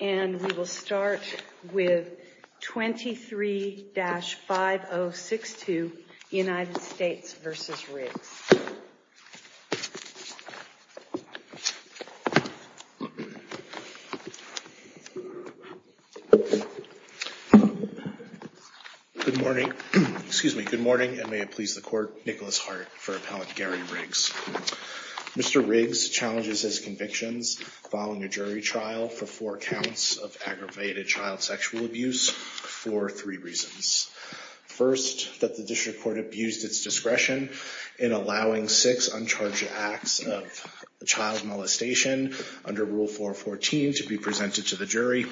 and we will start with 23-5062 United States v. Riggs. Good morning, excuse me, good morning, and may it please the court, Nicholas Hart for Appellate Gary Riggs. Mr. Riggs challenges his convictions following a jury trial for four counts of aggravated child sexual abuse for three reasons. First, that the district court abused its discretion in allowing six uncharged acts of child molestation under Rule 414 to be presented to the jury.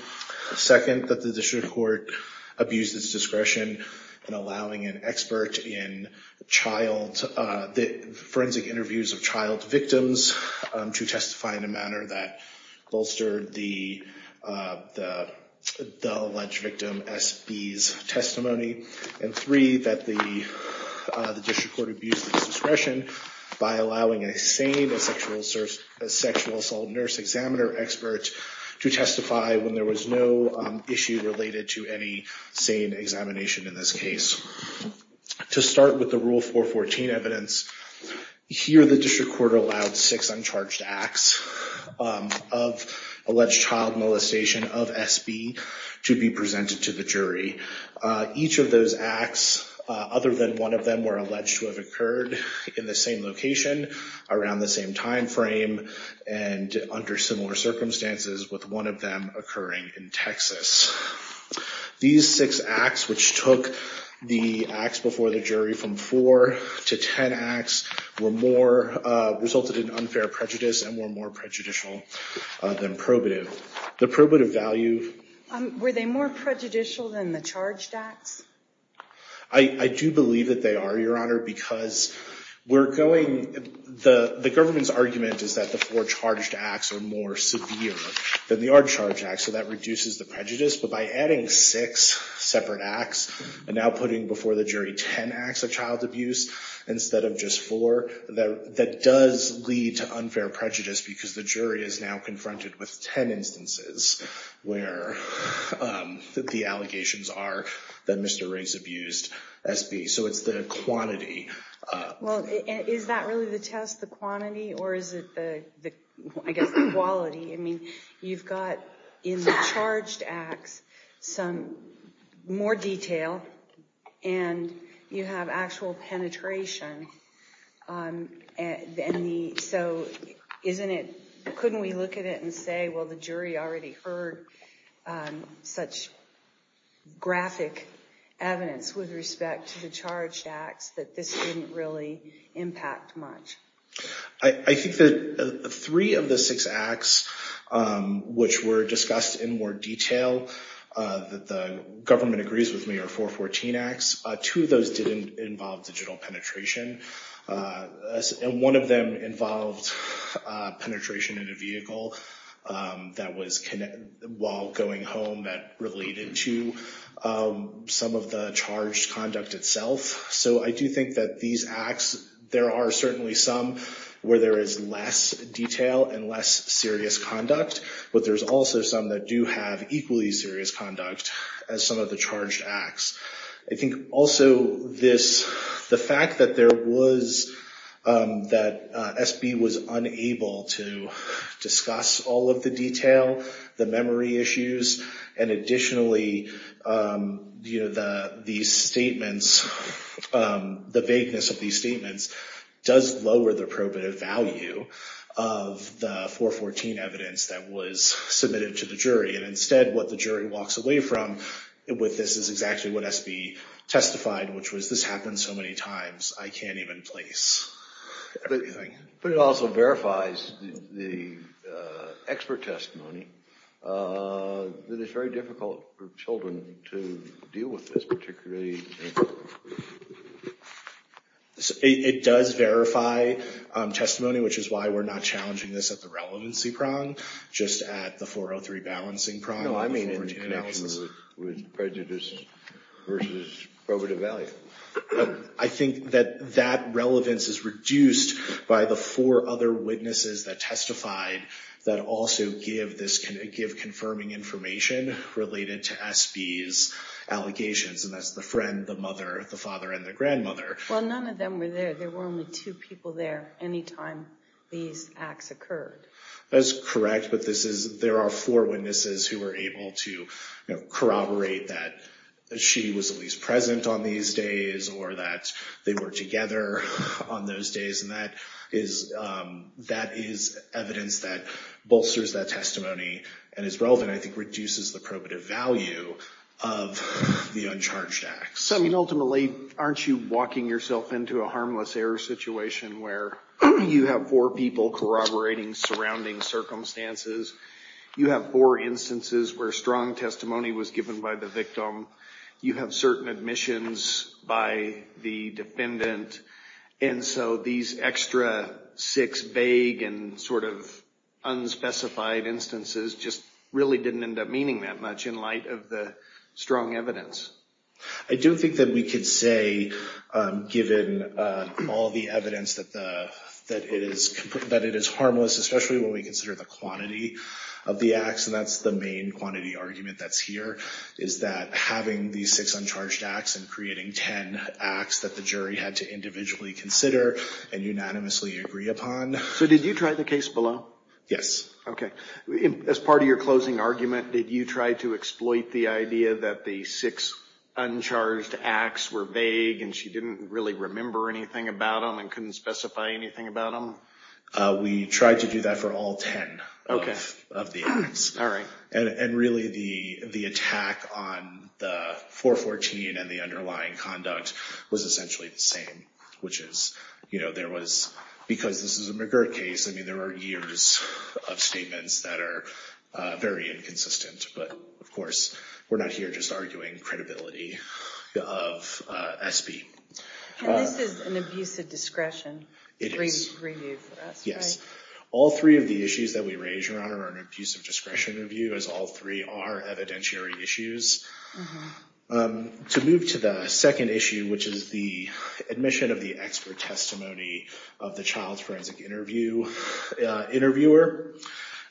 Second, that the district court abused its discretion in allowing an expert in forensic interviews of child victims to testify in a manner that bolstered the alleged victim SB's testimony. And three, that the district court abused its discretion by allowing a sane sexual assault nurse examiner expert to testify when there was no issue related to any sane examination in this case. To start with the Rule 414 evidence, here the district court allowed six uncharged acts of alleged child molestation of SB to be presented to the jury. Each of those acts, other than one of them were alleged to have occurred in the same location, around the same time frame, and under similar circumstances with one of them occurring in Texas. These six acts, which took the acts before the jury from four to ten acts, resulted in unfair prejudice and were more prejudicial than probative. The probative value... Were they more prejudicial than the charged acts? I do believe that they are, Your Honor, because we're going... The government's argument is that the four charged acts are more severe than the uncharged acts, so that reduces the prejudice. But by adding six separate acts and now putting before the jury ten acts of child abuse instead of just four, that does lead to unfair prejudice because the jury is now confronted with ten instances where the allegations are that Mr. Riggs abused SB. So it's the quantity. Well, is that really the test, the quantity? Or is it the, I guess, the quality? I mean, you've got in the charged acts some more detail, and you have actual penetration. So couldn't we look at it and say, well, the jury already heard such graphic evidence with respect to the charged acts that this didn't really impact much? I think that three of the six acts which were discussed in more detail that the government agrees with me are 414 acts. Two of those didn't involve digital penetration. And one of them involved penetration in a vehicle while going home that related to some of the charged conduct itself. So I do think that these acts, there are certainly some where there is less detail and less serious conduct, but there's also some that do have equally serious conduct as some of the charged acts. I think also this, the fact that there was, that SB was unable to discuss all of the detail, the memory issues, and additionally, you know, the statements, the vagueness of these statements does lower the probative value of the 414 evidence that was submitted to the jury. And instead, what the jury walks away from with this is exactly what SB testified, which was this happened so many times, I can't even place everything. But it also verifies the expert testimony that it's very difficult for children to deal with this particularly. It does verify testimony, which is why we're not challenging this at the relevancy prong, just at the 403 balancing prong. No, I mean in analysis with prejudice versus probative value. I think that that relevance is reduced by the four other witnesses that testified that also give confirming information related to SB's allegations, and that's the friend, the mother, the father, and the grandmother. Well, none of them were there. There were only two people there any time these acts occurred. That's correct, but this is, there are four witnesses who were able to corroborate that she was at least present on these days or that they were together on those days, and that is evidence that bolsters that testimony and is relevant, I think, reduces the probative value of the uncharged acts. So ultimately, aren't you walking yourself into a harmless error situation where you have four people corroborating surrounding circumstances? You have four instances where strong testimony was given by the victim. You have certain admissions by the defendant, and so these extra six vague and sort of unspecified instances just really didn't end up meaning that much in light of the strong evidence. I do think that we could say, given all the evidence, that it is harmless, especially when we consider the quantity of the acts, and that's the main quantity argument that's here, is that having these six uncharged acts and creating ten acts that the jury had to individually consider and unanimously agree upon. So did you try the case below? Yes. Okay. As part of your closing argument, did you try to exploit the idea that the six uncharged acts were vague and she didn't really remember anything about them and couldn't specify anything about them? We tried to do that for all ten of the acts. All right. And really, the attack on the 414 and the underlying conduct was essentially the same, which is, you know, there was, because this is a McGirt case, I mean, there were years of statements that are very inconsistent. But, of course, we're not here just arguing credibility of SB. And this is an abusive discretion review for us, right? Yes. All three of the issues that we raise, Your Honor, are an abusive discretion review, as all three are evidentiary issues. To move to the second issue, which is the admission of the expert testimony of the child's forensic interviewer,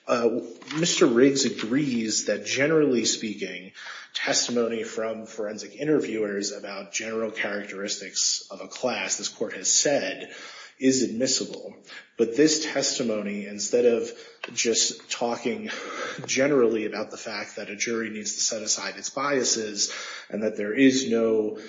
Mr. Riggs agrees that, generally speaking, testimony from forensic interviewers about general characteristics of a class, this court has said, is admissible. But this testimony, instead of just talking generally about the fact that a jury needs to set aside its biases and that there is no,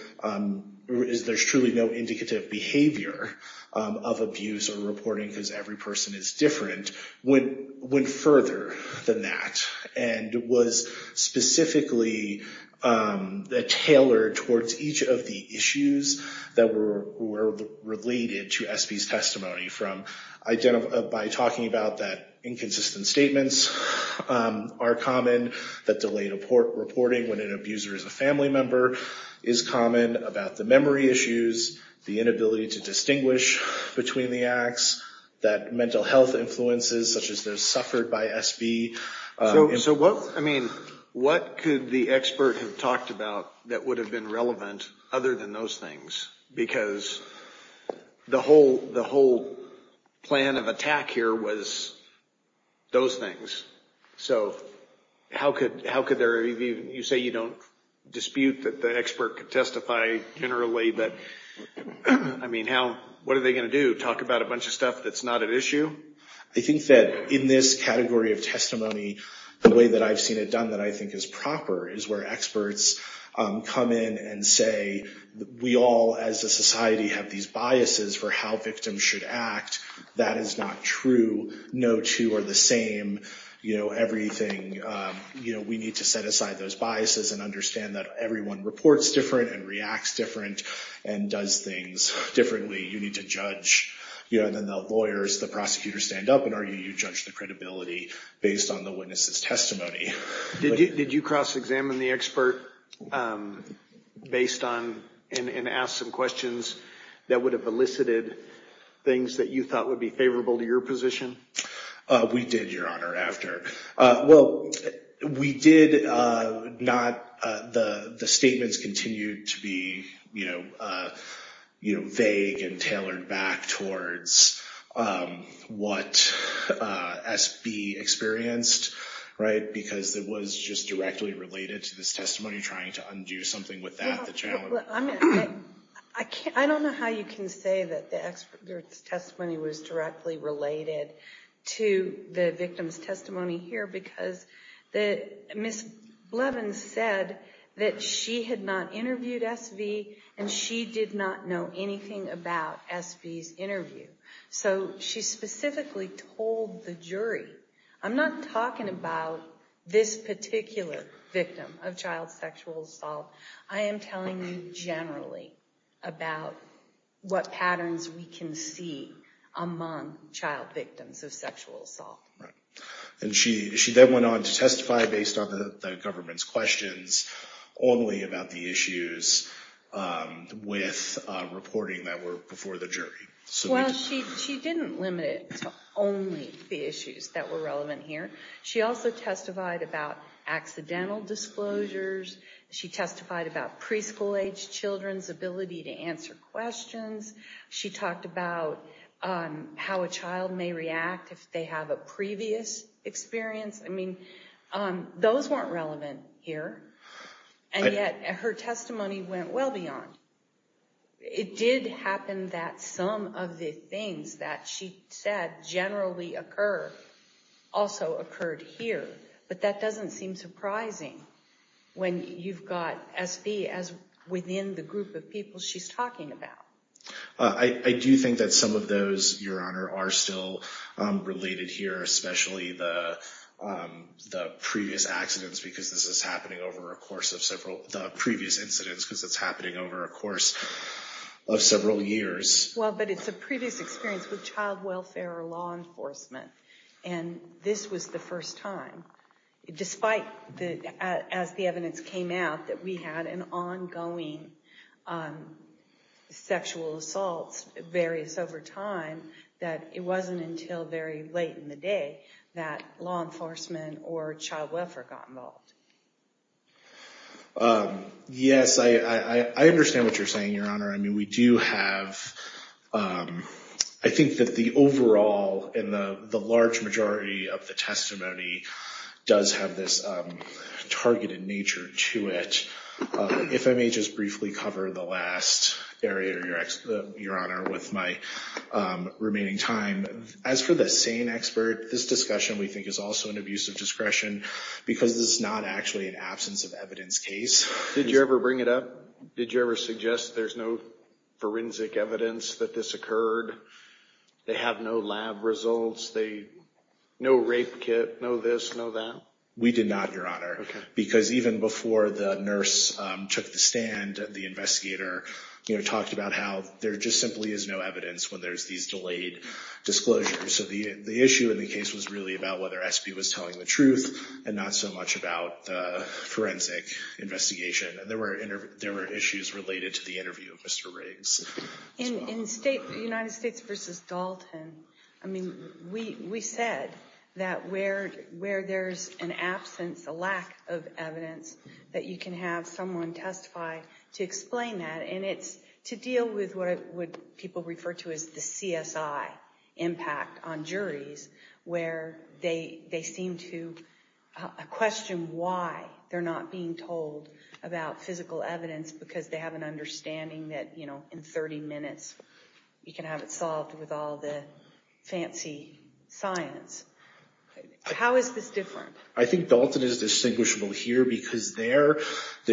there's truly no indicative behavior of abuse or reporting because every person is different, went further than that. And was specifically tailored towards each of the issues that were related to SB's testimony by talking about that inconsistent statements are common, that delayed reporting when an abuser is a family member is common, about the memory issues, the inability to distinguish between the acts, that mental health influences, such as those suffered by SB. So what, I mean, what could the expert have talked about that would have been relevant other than those things? Because the whole, the whole plan of attack here was those things. So how could, how could there be, you say you don't dispute that the expert could testify generally, but I mean, how, what are they going to do? Talk about a bunch of stuff that's not at issue? I think that in this category of testimony, the way that I've seen it done that I think is proper is where experts come in and say, we all as a society have these biases for how victims should act. That is not true. No two are the same. You know, everything, you know, we need to set aside those biases and understand that everyone reports different and reacts different and does things differently. You need to judge, you know, and then the lawyers, the prosecutors stand up and argue, you judge the credibility based on the witness's testimony. Did you cross examine the expert based on, and ask some questions that would have elicited things that you thought would be favorable to your position? We did, Your Honor, after. Well, we did not, the statements continue to be, you know, vague and tailored back towards what SB experienced, right? Because it was just directly related to this testimony, trying to undo something with that, the challenge. I don't know how you can say that the expert's testimony was directly related to the victim's testimony here, because Ms. Blevins said that she had not interviewed SV, and she did not know anything about SV's interview. So she specifically told the jury, I'm not talking about this particular victim of child sexual assault, I am telling you generally about what patterns we can see among child victims of sexual assault. And she then went on to testify based on the government's questions, only about the issues with reporting that were before the jury. Well, she didn't limit it to only the issues that were relevant here. She also testified about accidental disclosures. She testified about preschool-age children's ability to answer questions. She talked about how a child may react if they have a previous experience. I mean, those weren't relevant here, and yet her testimony went well beyond. It did happen that some of the things that she said generally occur also occurred here. But that doesn't seem surprising when you've got SV as within the group of people she's talking about. I do think that some of those, Your Honor, are still related here, especially the previous incidents, because it's happening over a course of several years. Well, but it's a previous experience with child welfare or law enforcement. And this was the first time, despite as the evidence came out, that we had an ongoing sexual assault, various over time, that it wasn't until very late in the day that law enforcement or child welfare got involved. Yes, I understand what you're saying, Your Honor. I mean, we do have—I think that the overall and the large majority of the testimony does have this targeted nature to it. If I may just briefly cover the last area, Your Honor, with my remaining time. As for the SANE expert, this discussion, we think, is also an abuse of discretion because this is not actually an absence of evidence case. Did you ever bring it up? Did you ever suggest there's no forensic evidence that this occurred? They have no lab results. They—no rape kit, no this, no that? We did not, Your Honor. Okay. So the issue in the case was really about whether Espy was telling the truth and not so much about the forensic investigation. There were issues related to the interview of Mr. Riggs. In United States v. Dalton, I mean, we said that where there's an absence, a lack of evidence, that you can have someone testify to explain that. And it's to deal with what people refer to as the CSI impact on juries where they seem to question why they're not being told about physical evidence because they have an understanding that, you know, in 30 minutes you can have it solved with all the fancy science. How is this different? I think Dalton is distinguishable here because there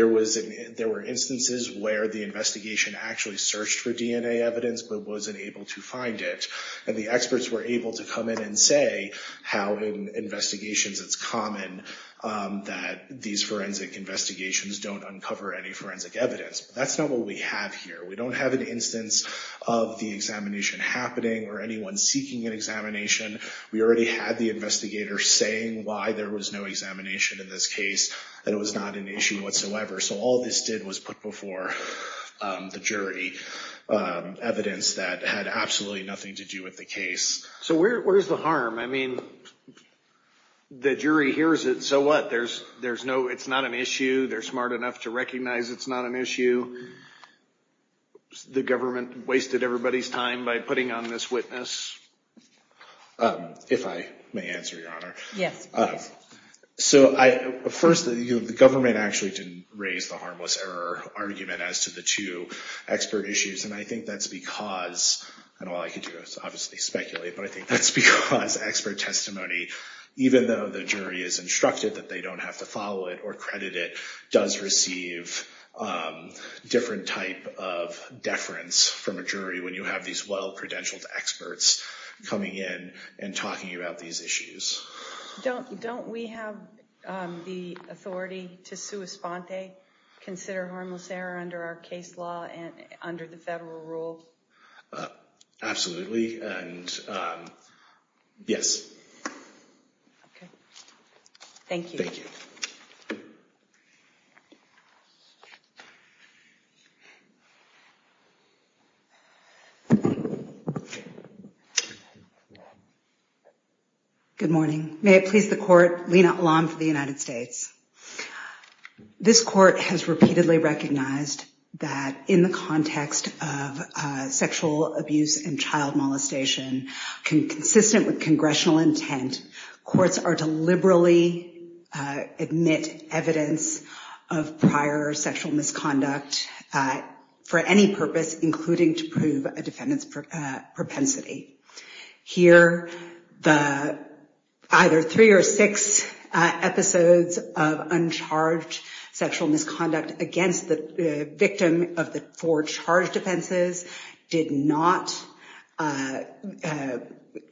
were instances where the investigation actually searched for DNA evidence but wasn't able to find it. And the experts were able to come in and say how in investigations it's common that these forensic investigations don't uncover any forensic evidence. That's not what we have here. We don't have an instance of the examination happening or anyone seeking an examination. We already had the investigator saying why there was no examination in this case and it was not an issue whatsoever. So all this did was put before the jury evidence that had absolutely nothing to do with the case. So where's the harm? I mean, the jury hears it. So what? There's no, it's not an issue. They're smart enough to recognize it's not an issue. The government wasted everybody's time by putting on this witness? If I may answer, Your Honor. Yes. So first, the government actually didn't raise the harmless error argument as to the two expert issues. And I think that's because, and all I can do is obviously speculate, but I think that's because expert testimony, even though the jury is instructed that they don't have to follow it or credit it, does receive different type of deference from a jury when you have these well-credentialed experts coming in and talking about these issues. Don't we have the authority to sua sponte, consider harmless error under our case law and under the federal rule? Absolutely. And yes. Thank you. Thank you. Good morning. May it please the Court, Lina Alam for the United States. This court has repeatedly recognized that in the context of sexual abuse and child molestation, consistent with congressional intent, courts are to liberally admit evidence of prior sexual misconduct for any purpose, including to prove a defendant's propensity. Here, the either three or six episodes of uncharged sexual misconduct against the victim of the four charged offenses did not,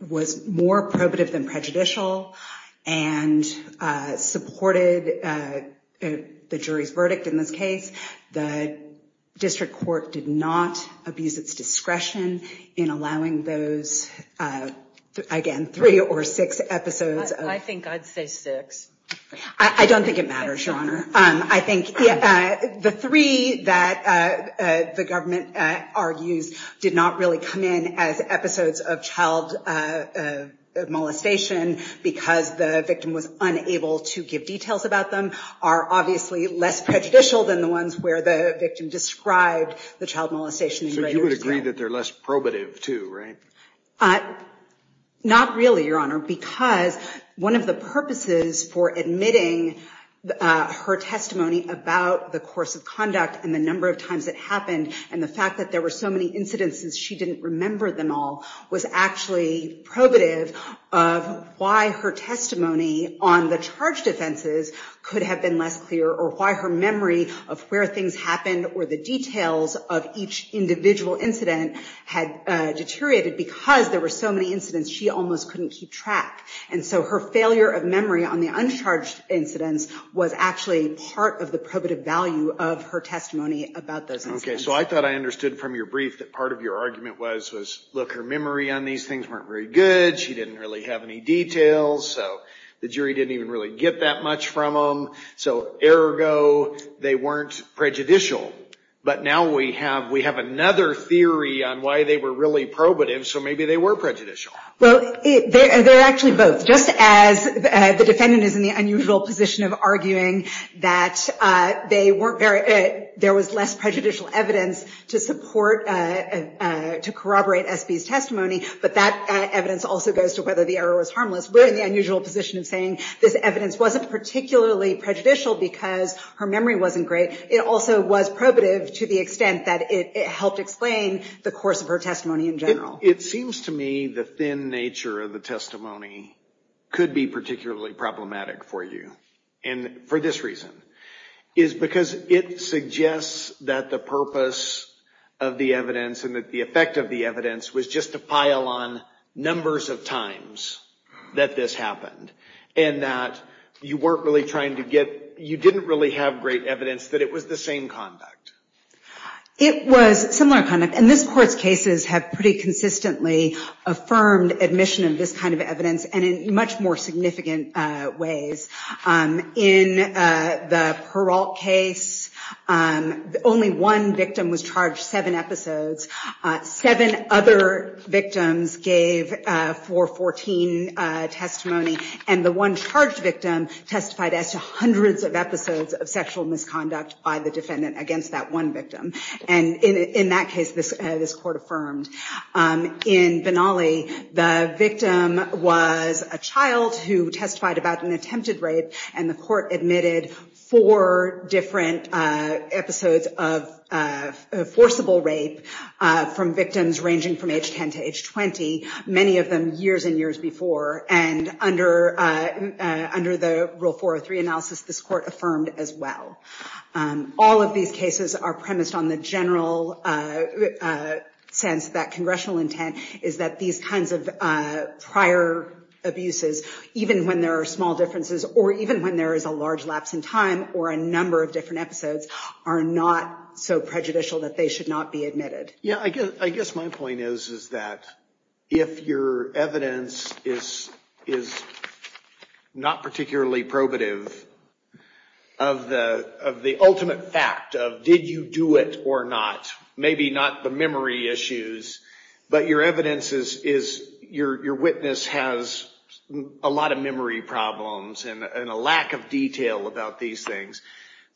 was more probative than prejudicial and supported the jury's verdict in this case. The district court did not abuse its discretion in allowing those, again, three or six episodes. I think I'd say six. I don't think it matters, Your Honor. I think the three that the government argues did not really come in as episodes of child molestation because the victim was unable to give details about them are obviously less prejudicial than the ones where the victim described the child molestation. So you would agree that they're less probative, too, right? Not really, Your Honor, because one of the purposes for admitting her testimony about the course of conduct and the number of times it happened and the fact that there were so many incidents and she didn't remember them all was actually probative of why her testimony on the charged offenses could have been less clear or why her memory of where things happened or the details of each individual incident had deteriorated because there were so many incidents she almost couldn't keep track. And so her failure of memory on the uncharged incidents was actually part of the probative value of her testimony about those incidents. Okay, so I thought I understood from your brief that part of your argument was, look, her memory on these things weren't very good. She didn't really have any details. So the jury didn't even really get that much from them. So ergo, they weren't prejudicial. But now we have another theory on why they were really probative, so maybe they were prejudicial. Well, they're actually both. So just as the defendant is in the unusual position of arguing that there was less prejudicial evidence to corroborate S.B.'s testimony, but that evidence also goes to whether the error was harmless. We're in the unusual position of saying this evidence wasn't particularly prejudicial because her memory wasn't great. It also was probative to the extent that it helped explain the course of her testimony in general. It seems to me the thin nature of the testimony could be particularly problematic for you, and for this reason. It's because it suggests that the purpose of the evidence and that the effect of the evidence was just a pile on numbers of times that this happened, and that you weren't really trying to get, you didn't really have great evidence that it was the same conduct. It was similar conduct, and this Court's cases have pretty consistently affirmed admission of this kind of evidence, and in much more significant ways. In the Peralt case, only one victim was charged seven episodes. Seven other victims gave 414 testimony, and the one charged victim testified as to hundreds of episodes of sexual misconduct by the defendant against that one victim. In that case, this Court affirmed. In Benally, the victim was a child who testified about an attempted rape, and the Court admitted four different episodes of forcible rape from victims ranging from age 10 to age 20, many of them years and years before, and under the Rule 403 analysis, this Court affirmed as well. All of these cases are premised on the general sense that congressional intent is that these kinds of prior abuses, even when there are small differences or even when there is a large lapse in time or a number of different episodes, are not so prejudicial that they should not be admitted. Yeah, I guess my point is that if your evidence is not particularly probative of the ultimate fact of did you do it or not, maybe not the memory issues, but your witness has a lot of memory problems and a lack of detail about these things,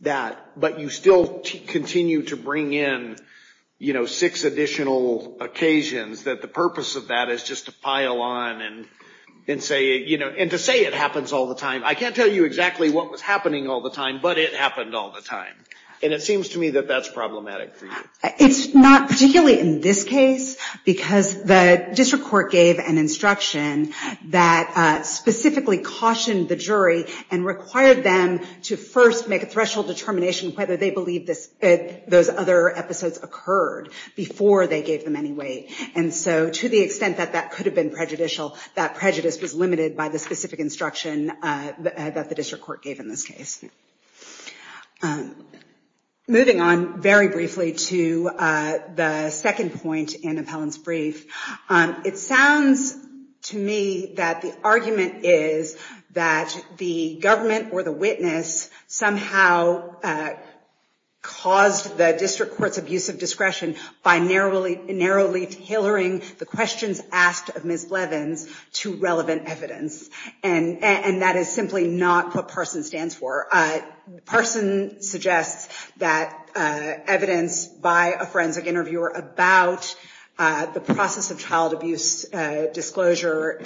but you still continue to bring in six additional occasions that the purpose of that is just to pile on and to say it happens all the time. I can't tell you exactly what was happening all the time, but it happened all the time. And it seems to me that that's problematic for you. It's not, particularly in this case, because the District Court gave an instruction that specifically cautioned the jury and required them to first make a threshold determination whether they believe those other episodes occurred before they gave them any weight. And so to the extent that that could have been prejudicial, that prejudice was limited by the specific instruction that the District Court gave in this case. Moving on very briefly to the second point in Appellant's brief, it sounds to me that the argument is that the government or the witness somehow caused the District Court's abuse of discretion by narrowly tailoring the questions asked of Ms. Levins to relevant evidence. And that is simply not what PARSON stands for. PARSON suggests that evidence by a forensic interviewer about the process of child abuse disclosure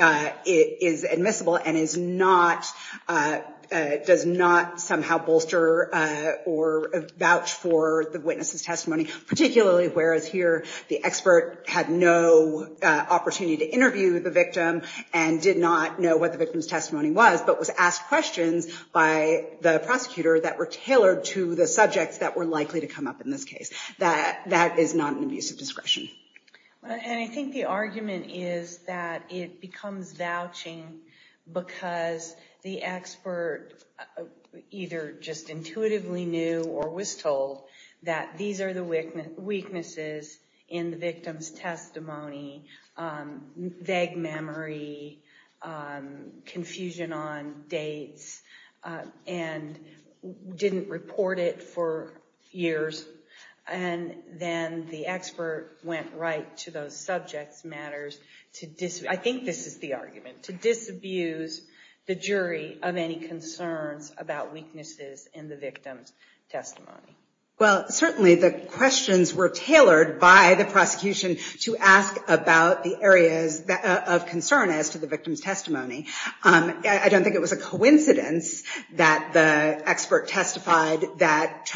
is admissible and does not somehow bolster or vouch for the witness's testimony, particularly whereas here the expert had no opportunity to interview the victim and did not know what the victim's testimony was, but was asked questions by the prosecutor that were tailored to the subjects that were likely to come up in this case. That is not an abuse of discretion. And I think the argument is that it becomes vouching because the expert either just intuitively knew or was told that these are the weaknesses in the victim's testimony, vague memory, confusion on dates, and didn't report it for years. And then the expert went right to those subjects' matters to, I think this is the argument, to disabuse the jury of any concerns about weaknesses in the victim's testimony. Well, certainly the questions were tailored by the prosecution to ask about the areas of concern as to the victim's testimony. I don't think it was a coincidence that the expert testified that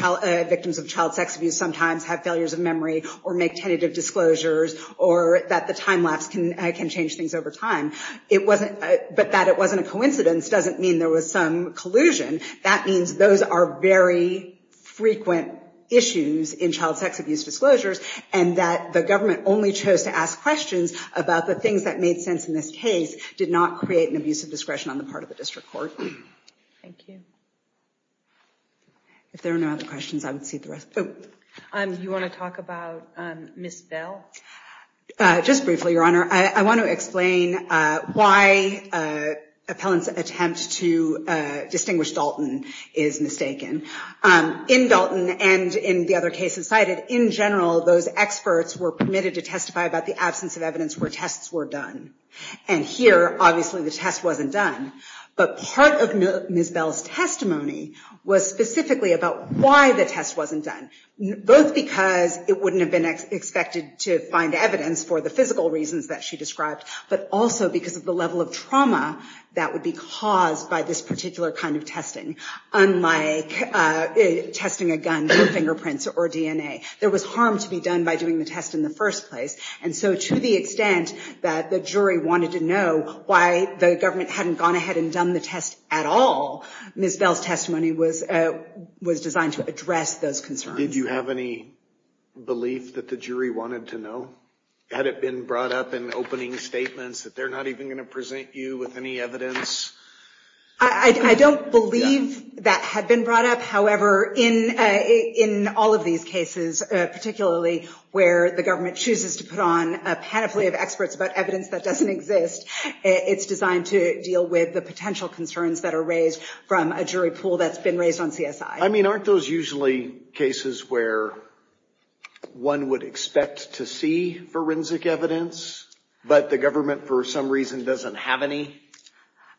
victims of child sex abuse sometimes have failures of memory or make tentative disclosures or that the time lapse can change things over time. But that it wasn't a coincidence doesn't mean there was some collusion. That means those are very frequent issues in child sex abuse disclosures and that the government only chose to ask questions about the things that made sense in this case did not create an abuse of discretion on the part of the district court. Thank you. If there are no other questions, I would cede the rest. Do you want to talk about Ms. Bell? Just briefly, Your Honor. I want to explain why appellant's attempt to distinguish Dalton is mistaken. In Dalton and in the other cases cited, in general, those experts were permitted to testify about the absence of evidence where tests were done. And here, obviously, the test wasn't done. But part of Ms. Bell's testimony was specifically about why the test wasn't done. Both because it wouldn't have been expected to find evidence for the physical reasons that she described, but also because of the level of trauma that would be caused by this particular kind of testing. Unlike testing a gun for fingerprints or DNA. There was harm to be done by doing the test in the first place. And so to the extent that the jury wanted to know why the government hadn't gone ahead and done the test at all, Ms. Bell's testimony was designed to address those concerns. Did you have any belief that the jury wanted to know? Had it been brought up in opening statements that they're not even going to present you with any evidence? I don't believe that had been brought up. However, in all of these cases, particularly where the government chooses to put on a panoply of experts about evidence that doesn't exist, it's designed to deal with the potential concerns that are raised from a jury pool that's been raised on CSI. I mean, aren't those usually cases where one would expect to see forensic evidence, but the government for some reason doesn't have any?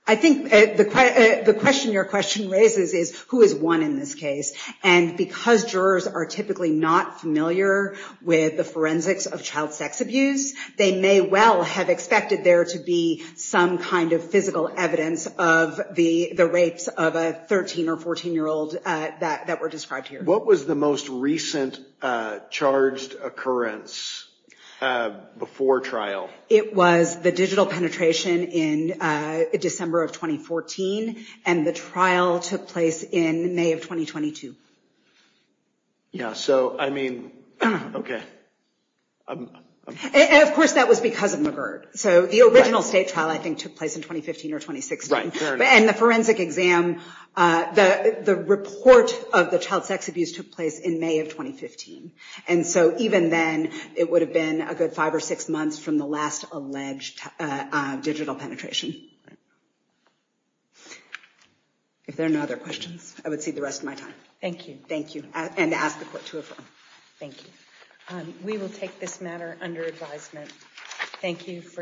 I think the question your question raises is, who is one in this case? And because jurors are typically not familiar with the forensics of child sex abuse, they may well have expected there to be some kind of physical evidence of the rapes of a 13 or 14 year old that were described here. What was the most recent charged occurrence before trial? It was the digital penetration in December of 2014. And the trial took place in May of 2022. So, I mean, OK. Of course, that was because of McGird. So the original state trial, I think, took place in 2015 or 2016. And the forensic exam, the report of the child sex abuse took place in May of 2015. And so even then, it would have been a good five or six months from the last alleged digital penetration. If there are no other questions, I would see the rest of my time. Thank you. Thank you. And ask the court to affirm. Thank you. We will take this matter under advisement. Thank you for your attention.